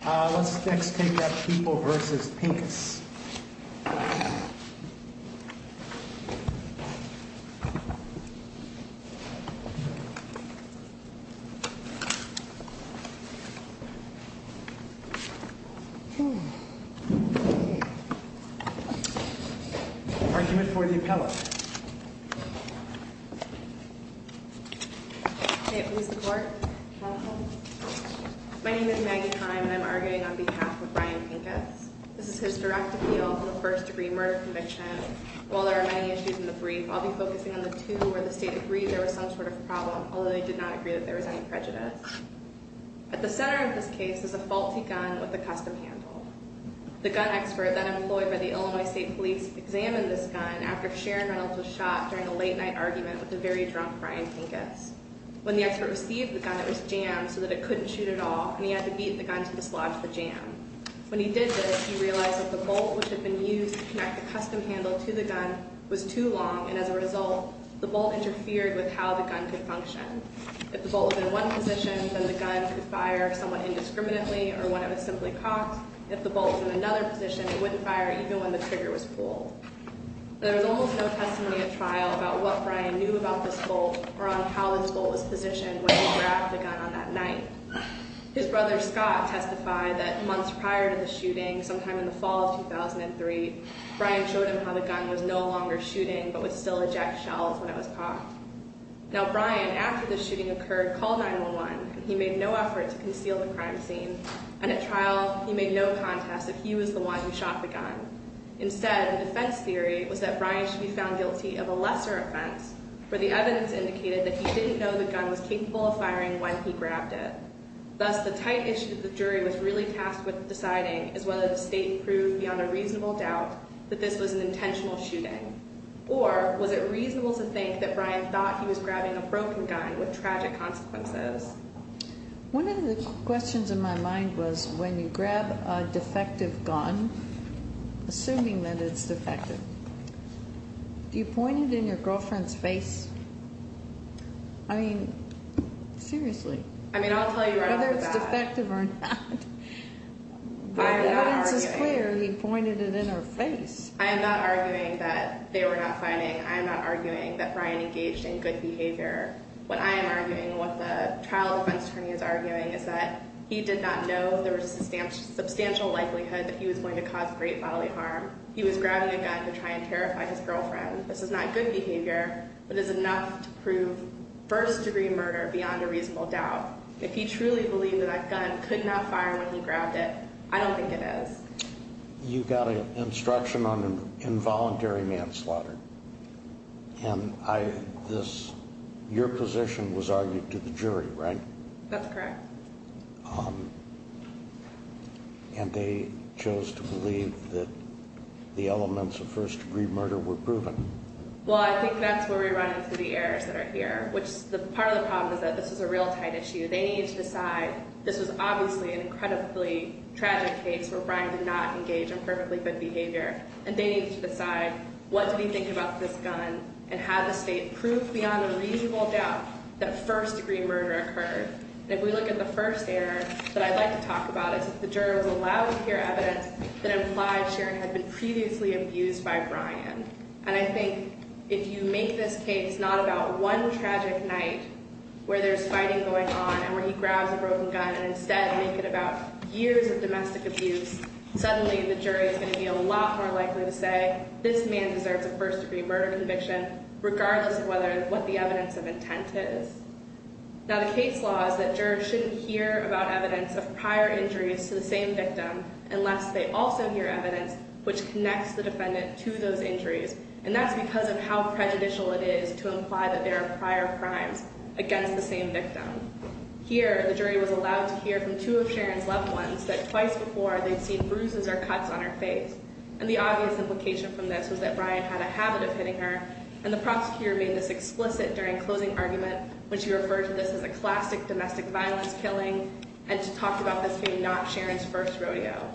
Let's next take up People v. Pinkas. Argument for the appellate. Who's the court? My name is Maggie Heim and I'm arguing on behalf of Brian Pinkas. This is his direct appeal on the first degree murder conviction. While there are many issues in the brief, I'll be focusing on the two where the state agreed there was some sort of problem, although they did not agree that there was any prejudice. At the center of this case is a faulty gun with a custom handle. The gun expert then employed by the Illinois State Police examined this gun after Sharon Reynolds was shot during a late night argument with a very drunk Brian Pinkas. When the expert received the gun, it was jammed so that it couldn't shoot at all, and he had to beat the gun to dislodge the jam. When he did this, he realized that the bolt which had been used to connect the custom handle to the gun was too long, and as a result, the bolt interfered with how the gun could function. If the bolt was in one position, then the gun could fire somewhat indiscriminately or when it was simply cocked. If the bolt was in another position, it wouldn't fire even when the trigger was pulled. There was almost no testimony at trial about what Brian knew about this bolt or on how this bolt was positioned when he grabbed the gun on that night. His brother Scott testified that months prior to the shooting, sometime in the fall of 2003, Brian showed him how the gun was no longer shooting but was still eject shells when it was cocked. Now, Brian, after the shooting occurred, called 911, and he made no effort to conceal the crime scene, and at trial, he made no contest that he was the one who shot the gun. Instead, the defense theory was that Brian should be found guilty of a lesser offense, where the evidence indicated that he didn't know the gun was capable of firing when he grabbed it. Thus, the tight issue that the jury was really tasked with deciding is whether the state proved beyond a reasonable doubt that this was an intentional shooting, or was it reasonable to think that Brian thought he was grabbing a broken gun with tragic consequences? One of the questions in my mind was when you grab a defective gun, assuming that it's defective, do you point it in your girlfriend's face? I mean, seriously. I mean, I'll tell you right off the bat. Whether it's defective or not, the evidence is clear. He pointed it in her face. I am not arguing that they were not fighting. I am not arguing that Brian engaged in good behavior. What I am arguing, what the trial defense attorney is arguing, is that he did not know there was a substantial likelihood that he was going to cause great bodily harm. He was grabbing a gun to try and terrify his girlfriend. This is not good behavior, but it's enough to prove first-degree murder beyond a reasonable doubt. If he truly believed that that gun could not fire when he grabbed it, I don't think it is. You got an instruction on involuntary manslaughter. Your position was argued to the jury, right? That's correct. And they chose to believe that the elements of first-degree murder were proven. Well, I think that's where we run into the errors that are here. Part of the problem is that this is a real tight issue. They need to decide this was obviously an incredibly tragic case where Brian did not engage in perfectly good behavior. And they need to decide what to be thinking about this gun and have the state prove beyond a reasonable doubt that first-degree murder occurred. And if we look at the first error that I'd like to talk about, it's that the jurors allowed to hear evidence that implied Sharon had been previously abused by Brian. And I think if you make this case not about one tragic night where there's fighting going on and where he grabs a broken gun and instead make it about years of domestic abuse, suddenly the jury is going to be a lot more likely to say, this man deserves a first-degree murder conviction regardless of what the evidence of intent is. Now, the case law is that jurors shouldn't hear about evidence of prior injuries to the same victim unless they also hear evidence which connects the defendant to those injuries. And that's because of how prejudicial it is to imply that there are prior crimes against the same victim. Here, the jury was allowed to hear from two of Sharon's loved ones that twice before they'd seen bruises or cuts on her face. And the obvious implication from this was that Brian had a habit of hitting her, and the prosecutor made this explicit during closing argument when she referred to this as a classic domestic violence killing and to talk about this being not Sharon's first rodeo.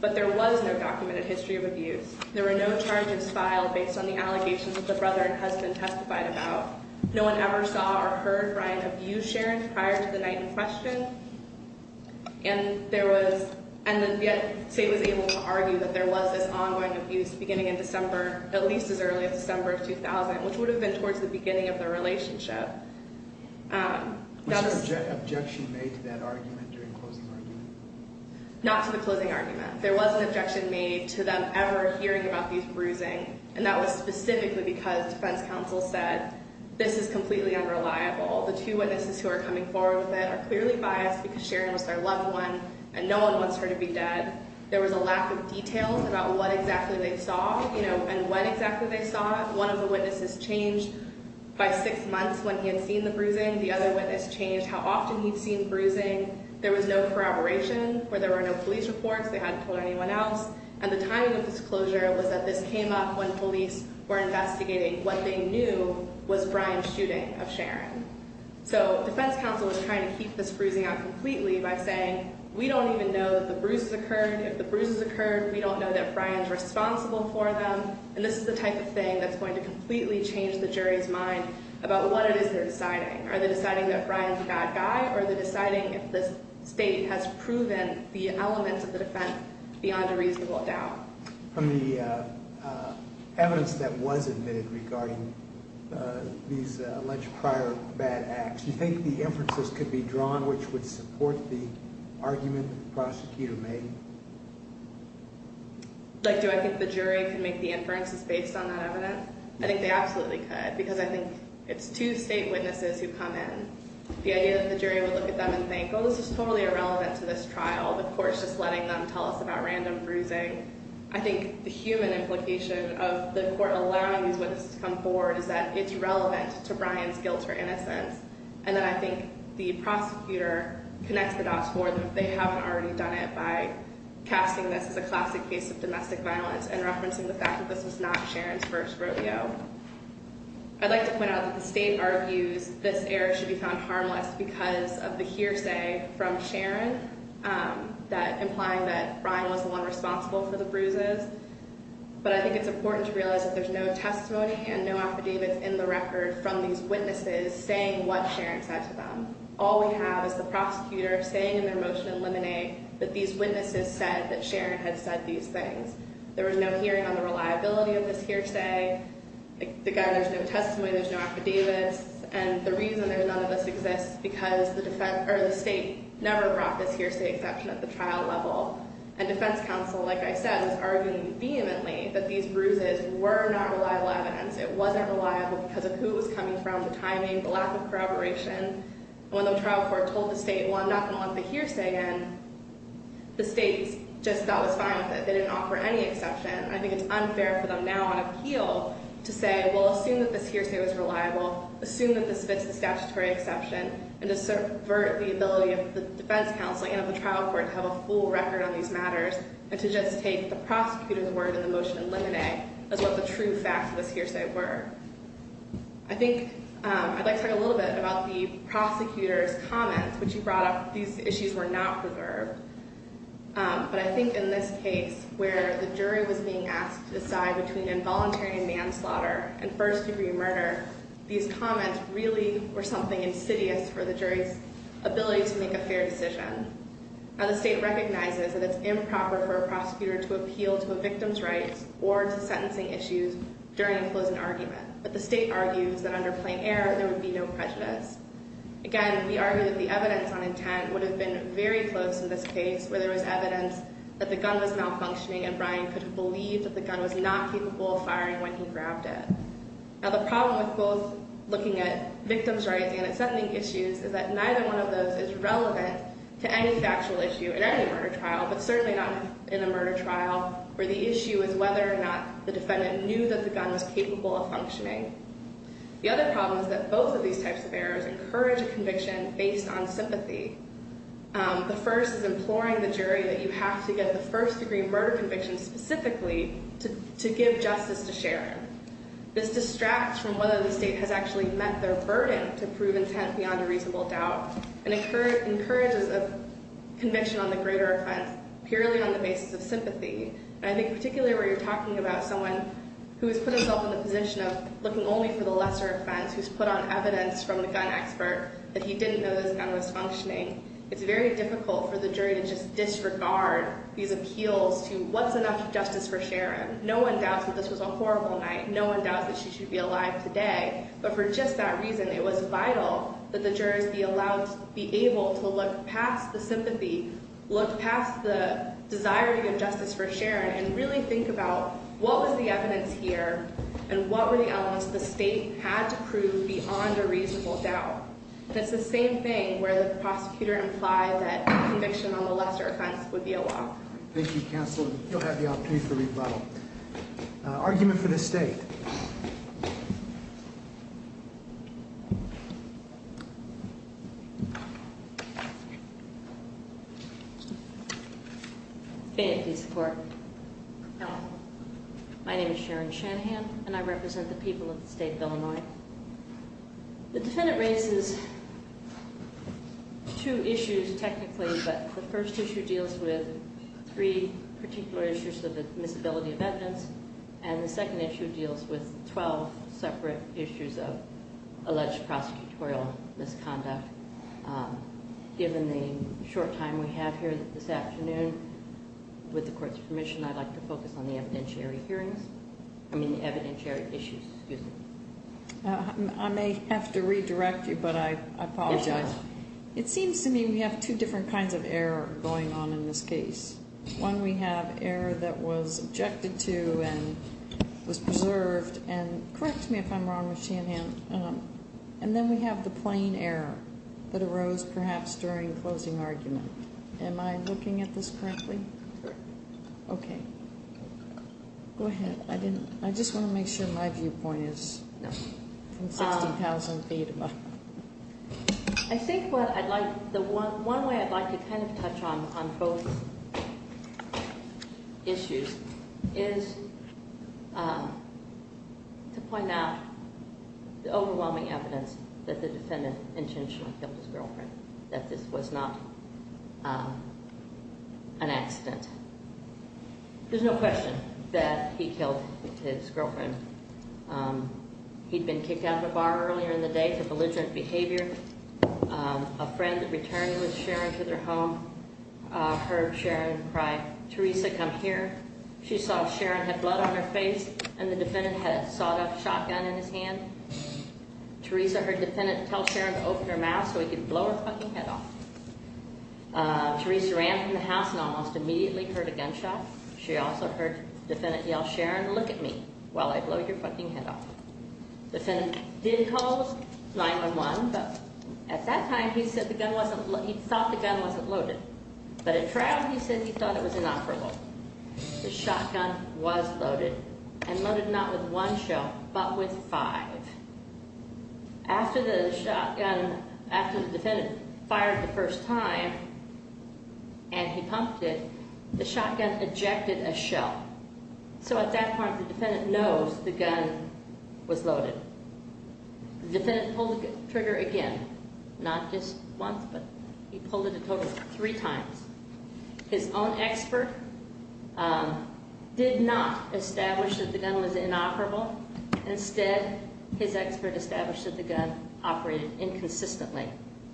But there was no documented history of abuse. There were no charges filed based on the allegations that the brother and husband testified about. No one ever saw or heard Brian abuse Sharon prior to the night in question. And there was – and yet, Sate was able to argue that there was this ongoing abuse beginning in December, at least as early as December of 2000, which would have been towards the beginning of their relationship. Was there an objection made to that argument during closing argument? Not to the closing argument. There was an objection made to them ever hearing about these bruising, and that was specifically because defense counsel said this is completely unreliable. The two witnesses who are coming forward with it are clearly biased because Sharon was their loved one, and no one wants her to be dead. There was a lack of details about what exactly they saw, you know, and when exactly they saw it. One of the witnesses changed by six months when he had seen the bruising. The other witness changed how often he'd seen bruising. There was no corroboration where there were no police reports. They hadn't told anyone else. And the timing of this closure was that this came up when police were investigating what they knew was Brian's shooting of Sharon. So defense counsel was trying to keep this bruising out completely by saying, we don't even know the bruises occurred. If the bruises occurred, we don't know that Brian's responsible for them, and this is the type of thing that's going to completely change the jury's mind about what it is they're deciding. Are they deciding that Brian's a bad guy, or are they deciding if the state has proven the elements of the defense beyond a reasonable doubt? From the evidence that was admitted regarding these alleged prior bad acts, do you think the inferences could be drawn which would support the argument the prosecutor made? Do I think the jury could make the inferences based on that evidence? I think they absolutely could, because I think it's two state witnesses who come in. The idea that the jury would look at them and think, oh, this is totally irrelevant to this trial. The court's just letting them tell us about random bruising. I think the human implication of the court allowing these witnesses to come forward is that it's relevant to Brian's guilt or innocence, and that I think the prosecutor connects the dots for them if they haven't already done it by casting this as a classic case of domestic violence and referencing the fact that this was not Sharon's first rodeo. I'd like to point out that the state argues this error should be found harmless because of the hearsay from Sharon implying that Brian was the one responsible for the bruises, but I think it's important to realize that there's no testimony and no affidavits in the record from these witnesses saying what Sharon said to them. All we have is the prosecutor saying in their motion in Lemonade that these witnesses said that Sharon had said these things. There was no hearing on the reliability of this hearsay. Again, there's no testimony. There's no affidavits. And the reason that none of this exists is because the state never brought this hearsay exception at the trial level. And defense counsel, like I said, was arguing vehemently that these bruises were not reliable evidence. It wasn't reliable because of who it was coming from, the timing, the lack of corroboration. And when the trial court told the state, well, I'm not going to let the hearsay in, the state just thought was fine with it. They didn't offer any exception. I think it's unfair for them now on appeal to say, well, assume that this hearsay was reliable, assume that this fits the statutory exception, and to subvert the ability of the defense counsel and of the trial court to have a full record on these matters and to just take the prosecutor's word in the motion in limine as what the true facts of this hearsay were. I think I'd like to talk a little bit about the prosecutor's comments, which you brought up. These issues were not preserved. But I think in this case where the jury was being asked to decide between involuntary manslaughter and first-degree murder, these comments really were something insidious for the jury's ability to make a fair decision. Now, the state recognizes that it's improper for a prosecutor to appeal to a victim's rights or to sentencing issues during a closing argument. But the state argues that under plain error, there would be no prejudice. Again, we argue that the evidence on intent would have been very close in this case where there was evidence that the gun was malfunctioning, and Brian could have believed that the gun was not capable of firing when he grabbed it. Now, the problem with both looking at victim's rights and at sentencing issues is that neither one of those is relevant to any factual issue in any murder trial, but certainly not in a murder trial where the issue is whether or not the defendant knew that the gun was capable of functioning. The other problem is that both of these types of errors encourage a conviction based on sympathy. The first is imploring the jury that you have to get the first-degree murder conviction specifically to give justice to Sharon. This distracts from whether the state has actually met their burden to prove intent beyond a reasonable doubt and encourages a conviction on the greater offense purely on the basis of sympathy. And I think particularly where you're talking about someone who has put himself in the position of looking only for the lesser offense, who's put on evidence from the gun expert that he didn't know that his gun was functioning, it's very difficult for the jury to just disregard these appeals to what's enough justice for Sharon. No one doubts that this was a horrible night. No one doubts that she should be alive today. But for just that reason, it was vital that the jury be allowed to be able to look past the sympathy, look past the desiring of justice for Sharon, and really think about what was the evidence here and what were the elements the state had to prove beyond a reasonable doubt. And it's the same thing where the prosecutor implied that a conviction on the lesser offense would be a law. Thank you, Counselor. You'll have the opportunity for rebuttal. Argument for this state. Faintly support. My name is Sharon Shanahan, and I represent the people of the state of Illinois. The defendant raises two issues technically, but the first issue deals with three particular issues of admissibility of evidence, and the second issue deals with 12 separate issues of alleged prosecutorial misconduct. Given the short time we have here this afternoon, with the Court's permission, I'd like to focus on the evidentiary hearings, I mean the evidentiary issues. I may have to redirect you, but I apologize. It seems to me we have two different kinds of error going on in this case. One, we have error that was objected to and was preserved, and correct me if I'm wrong with Shanahan, and then we have the plain error that arose perhaps during the closing argument. Am I looking at this correctly? Correct. Okay. Go ahead. I just want to make sure my viewpoint is 60,000 feet above. I think the one way I'd like to kind of touch on both issues is to point out the overwhelming evidence that the defendant intentionally killed his girlfriend, that this was not an accident. There's no question that he killed his girlfriend. He'd been kicked out of the bar earlier in the day for belligerent behavior. A friend that returned with Sharon to their home heard Sharon cry, Teresa, come here. She saw Sharon had blood on her face, and the defendant had a sawed-off shotgun in his hand. Teresa heard the defendant tell Sharon to open her mouth so he could blow her fucking head off. Teresa ran from the house and almost immediately heard a gunshot. She also heard the defendant yell, Sharon, look at me while I blow your fucking head off. The defendant did call 911, but at that time he thought the gun wasn't loaded, but at trial he said he thought it was inoperable. The shotgun was loaded and loaded not with one shell but with five. After the shotgun, after the defendant fired the first time and he pumped it, the shotgun ejected a shell. So at that point the defendant knows the gun was loaded. The defendant pulled the trigger again, not just once, but he pulled it a total of three times. His own expert did not establish that the gun was inoperable. Instead, his expert established that the gun operated inconsistently.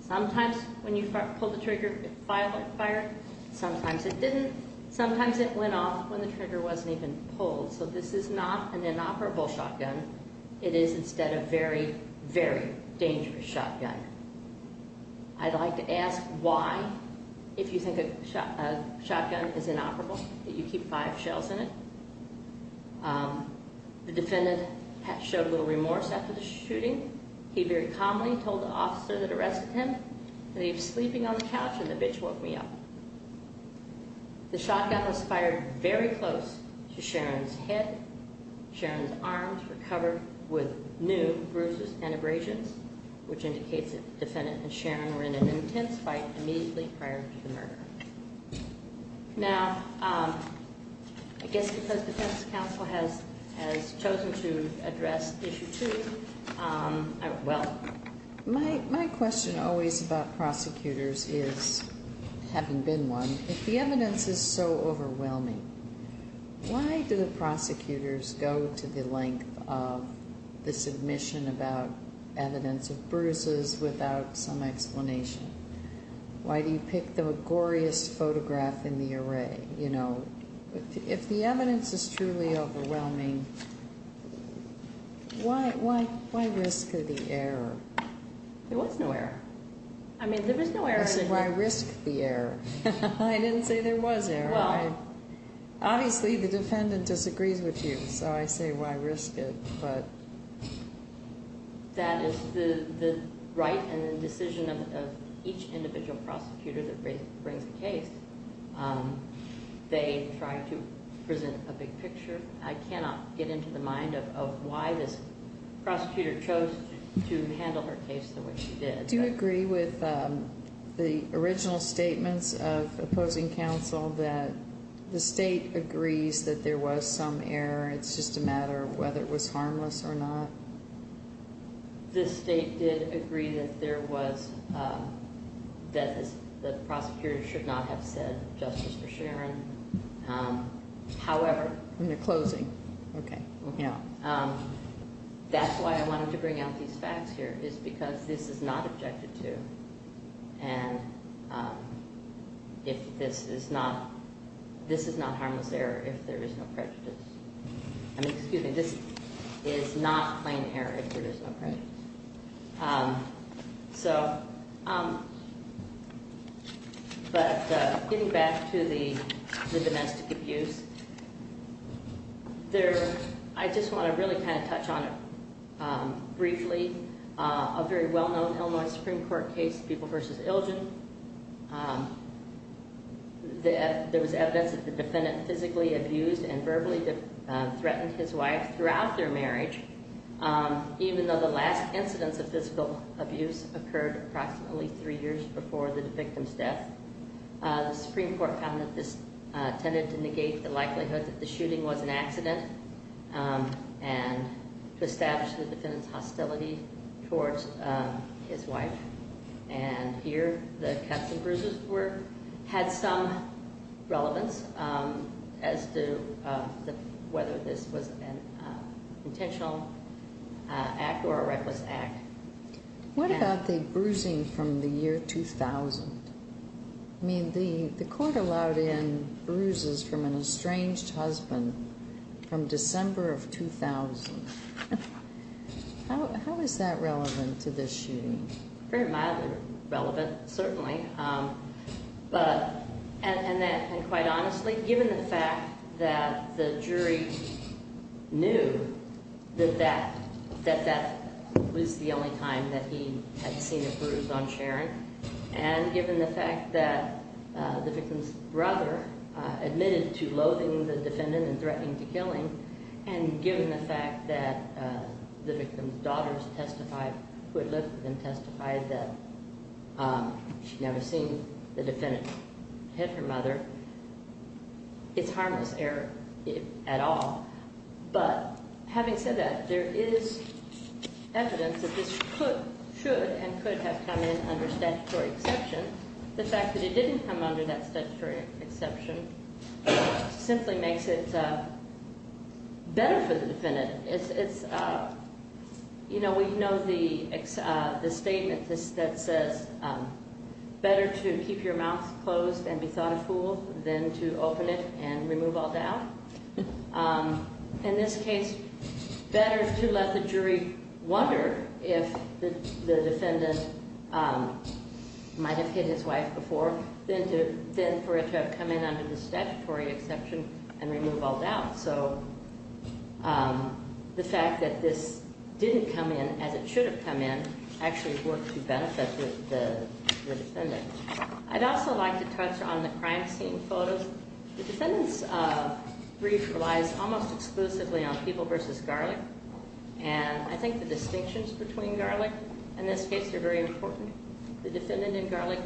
Sometimes when you pull the trigger it fired, sometimes it didn't, sometimes it went off when the trigger wasn't even pulled. So this is not an inoperable shotgun. It is instead a very, very dangerous shotgun. I'd like to ask why, if you think a shotgun is inoperable, that you keep five shells in it. The defendant showed a little remorse after the shooting. He very calmly told the officer that arrested him that he was sleeping on the couch and the bitch woke me up. The shotgun was fired very close to Sharon's head. Sharon's arms were covered with new bruises and abrasions, which indicates that the defendant and Sharon were in an intense fight immediately prior to the murder. Now, I guess because the defense counsel has chosen to address Issue 2, well. My question always about prosecutors is, having been one, if the evidence is so overwhelming, why do the prosecutors go to the length of the submission about evidence of bruises without some explanation? Why do you pick the goriest photograph in the array? You know, if the evidence is truly overwhelming, why risk the error? There was no error. I mean, there was no error. I said, why risk the error? I didn't say there was error. Well. Obviously, the defendant disagrees with you, so I say, why risk it? But. That is the right and the decision of each individual prosecutor that brings a case. They try to present a big picture. I cannot get into the mind of why this prosecutor chose to handle her case the way she did. I do agree with the original statements of opposing counsel that the state agrees that there was some error. It's just a matter of whether it was harmless or not. The state did agree that there was, that the prosecutor should not have said justice for Sharon. However. We're closing. Okay. Yeah. That's why I wanted to bring out these facts here is because this is not objected to. And. If this is not. This is not harmless error. If there is no prejudice. I mean, excuse me. This is not plain error. If there is no. So. But getting back to the domestic abuse. There. I just want to really kind of touch on it. Briefly. A very well known Illinois Supreme Court case. People versus Illgen. There was evidence that the defendant physically abused and verbally threatened his wife throughout their marriage. Even though the last incidents of physical abuse occurred approximately three years before the victim's death. The Supreme Court found that this tended to negate the likelihood that the shooting was an accident. And to establish the defendant's hostility towards his wife. And here the cuts and bruises were, had some relevance as to whether this was an intentional act or a reckless act. What about the bruising from the year 2000? I mean, the court allowed in bruises from an estranged husband from December of 2000. How is that relevant to this shooting? Very mildly relevant, certainly. And quite honestly, given the fact that the jury knew that that was the only time that he had seen a bruise on Sharon. And given the fact that the victim's brother admitted to loathing the defendant and threatening to kill him. And given the fact that the victim's daughters testified, who had lived with them, testified that she'd never seen the defendant hit her mother. It's harmless error at all. But having said that, there is evidence that this could, should and could have come in under statutory exception. The fact that it didn't come under that statutory exception simply makes it better for the defendant. It's, you know, we know the statement that says better to keep your mouth closed and be thoughtful than to open it and remove all doubt. In this case, better to let the jury wonder if the defendant might have hit his wife before than for it to have come in under the statutory exception and remove all doubt. So the fact that this didn't come in as it should have come in actually worked to benefit the defendant. I'd also like to touch on the crime scene photos. The defendant's brief relies almost exclusively on People v. Garlic. And I think the distinctions between Garlic and this case are very important. The defendant in Garlic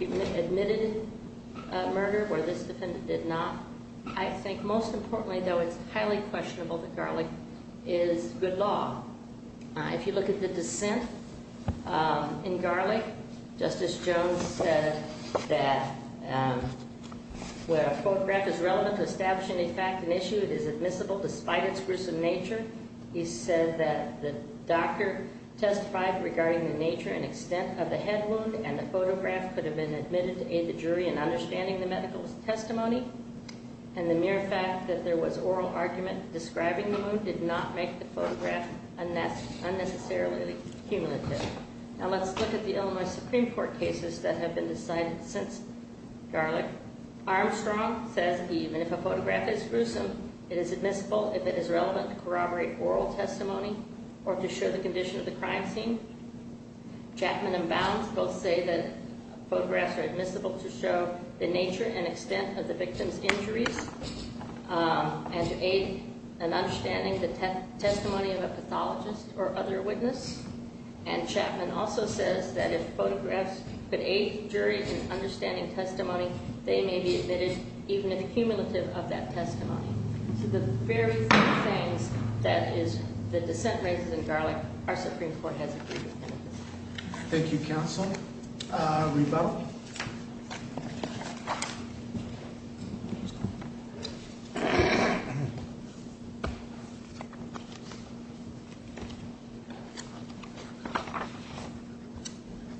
admitted a murder where this defendant did not. I think most importantly, though, it's highly questionable that Garlic is good law. If you look at the dissent in Garlic, Justice Jones said that where a photograph is relevant to establishing a fact and issue, it is admissible despite its gruesome nature. He said that the doctor testified regarding the nature and extent of the head wound and the photograph could have been admitted to aid the jury in understanding the medical testimony. And the mere fact that there was oral argument describing the wound did not make the photograph unnecessarily cumulative. Now let's look at the Illinois Supreme Court cases that have been decided since Garlic. Armstrong says even if a photograph is gruesome, it is admissible if it is relevant to corroborate oral testimony or to show the condition of the crime scene. Chapman and Bounds both say that photographs are admissible to show the nature and extent of the victim's injuries and to aid in understanding the testimony of a pathologist or other witness. And Chapman also says that if photographs could aid the jury in understanding testimony, they may be admitted even if cumulative of that testimony. So the very few things that the dissent raises in Garlic, our Supreme Court has agreed to. Thank you, counsel. Reba?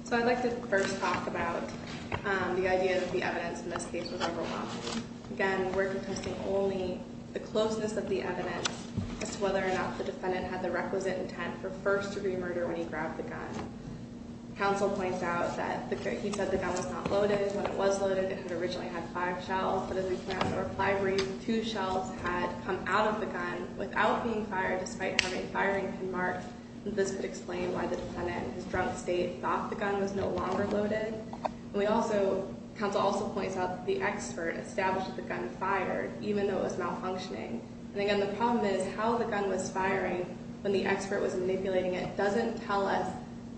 So I'd like to first talk about the idea that the evidence in this case was overwhelming. Again, we're contesting only the closeness of the evidence as to whether or not the defendant had the requisite intent for first-degree murder when he grabbed the gun. Counsel points out that he said the gun was not loaded. When it was loaded, it had originally had five shells. But as we came out of the reply brief, two shells had come out of the gun without being fired despite having firing pin marks. This would explain why the defendant in his drunk state thought the gun was no longer loaded. Counsel also points out that the expert established that the gun fired even though it was malfunctioning. And again, the problem is how the gun was firing when the expert was manipulating it doesn't tell us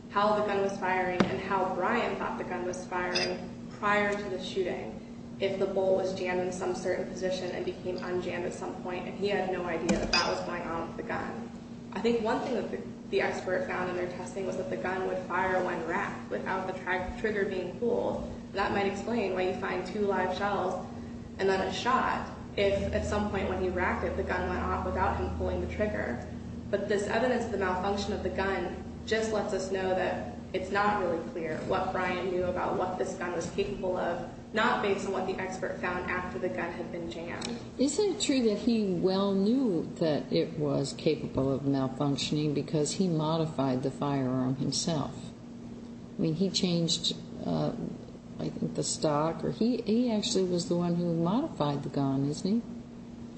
how the gun was firing and how Brian thought the gun was firing prior to the shooting. If the bull was jammed in some certain position and became unjammed at some point and he had no idea that that was going on with the gun. I think one thing that the expert found in their testing was that the gun would fire when racked without the trigger being pulled. That might explain why you find two live shells and then a shot if at some point when he racked it, the gun went off without him pulling the trigger. But this evidence of the malfunction of the gun just lets us know that it's not really clear what Brian knew about what this gun was capable of, not based on what the expert found after the gun had been jammed. Isn't it true that he well knew that it was capable of malfunctioning because he modified the firearm himself? I mean, he changed, I think, the stock or he actually was the one who modified the gun, isn't he?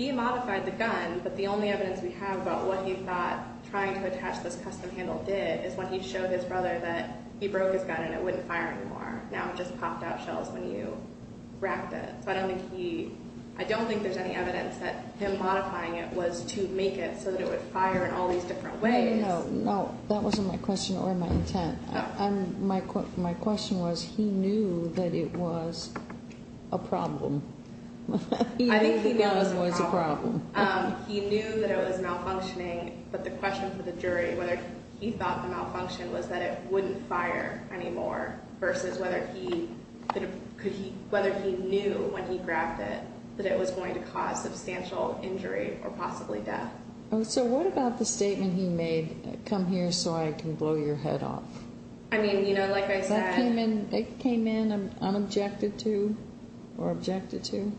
He modified the gun, but the only evidence we have about what he thought trying to attach this custom handle did is when he showed his brother that he broke his gun and it wouldn't fire anymore. Now it just popped out shells when you racked it. So I don't think there's any evidence that him modifying it was to make it so that it would fire in all these different ways. No, that wasn't my question or my intent. My question was he knew that it was a problem. I think he knew it was a problem. He knew that it was malfunctioning, but the question for the jury, whether he thought the malfunction was that it wouldn't fire anymore versus whether he knew when he grabbed it that it was going to cause substantial injury or possibly death. So what about the statement he made, come here so I can blow your head off? I mean, you know, like I said. That came in unobjected to or objected to?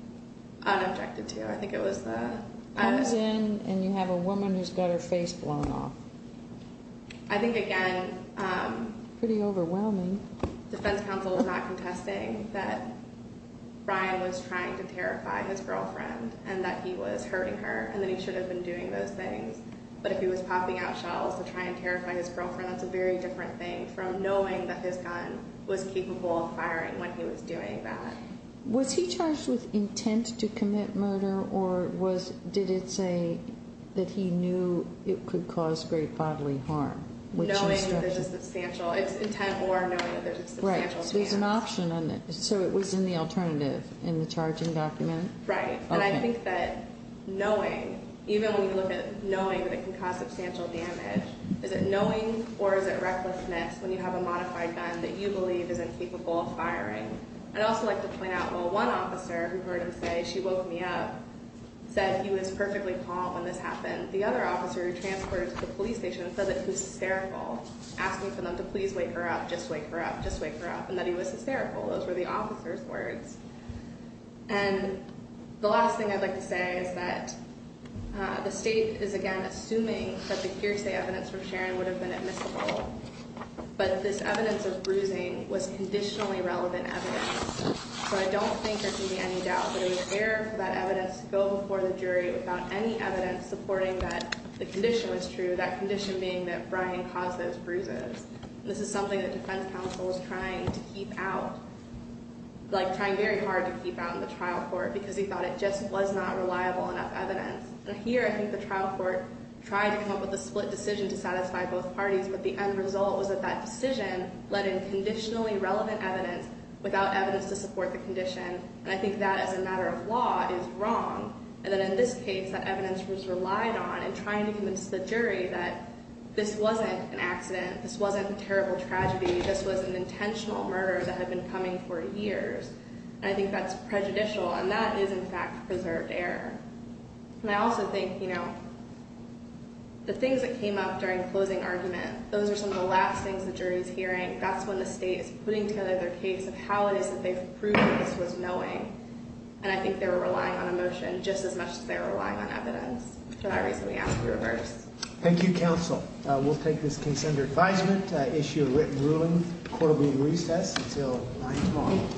Unobjected to. I think it was the. Comes in and you have a woman who's got her face blown off. I think, again. Pretty overwhelming. Defense counsel is not contesting that Brian was trying to terrify his girlfriend and that he was hurting her and that he should have been doing those things. But if he was popping out shells to try and terrify his girlfriend, that's a very different thing from knowing that his gun was capable of firing when he was doing that. Was he charged with intent to commit murder or did it say that he knew it could cause great bodily harm? Knowing that there's a substantial. It's intent or knowing that there's a substantial chance. Right. So there's an option. So it was in the alternative in the charging document? Right. And I think that knowing, even when you look at knowing that it can cause substantial damage, is it knowing or is it recklessness when you have a modified gun that you believe isn't capable of firing? I'd also like to point out, well, one officer who heard him say she woke me up said he was perfectly calm when this happened. The other officer who transferred to the police station said that he was hysterical asking for them to please wake her up. Just wake her up. Just wake her up. And that he was hysterical. Those were the officer's words. And the last thing I'd like to say is that the state is, again, assuming that the hearsay evidence from Sharon would have been admissible. But this evidence of bruising was conditionally relevant evidence. So I don't think there can be any doubt that it was fair for that evidence to go before the jury without any evidence supporting that the condition was true, that condition being that Brian caused those bruises. This is something that defense counsel was trying to keep out, like trying very hard to keep out in the trial court because he thought it just was not reliable enough evidence. And here I think the trial court tried to come up with a split decision to satisfy both parties, but the end result was that that decision led in conditionally relevant evidence without evidence to support the condition. And I think that, as a matter of law, is wrong. And that in this case, that evidence was relied on in trying to convince the jury that this wasn't an accident, this wasn't a terrible tragedy, this was an intentional murder that had been coming for years. And I think that's prejudicial. And that is, in fact, preserved error. And I also think, you know, the things that came up during the closing argument, those are some of the last things the jury is hearing. That's when the state is putting together their case of how it is that they've proven this was knowing. And I think they were relying on emotion just as much as they were relying on evidence. For that reason, we ask for a reverse. Thank you, counsel. We'll take this consented advisement to issue a written ruling. The court will be in recess until 9 tomorrow.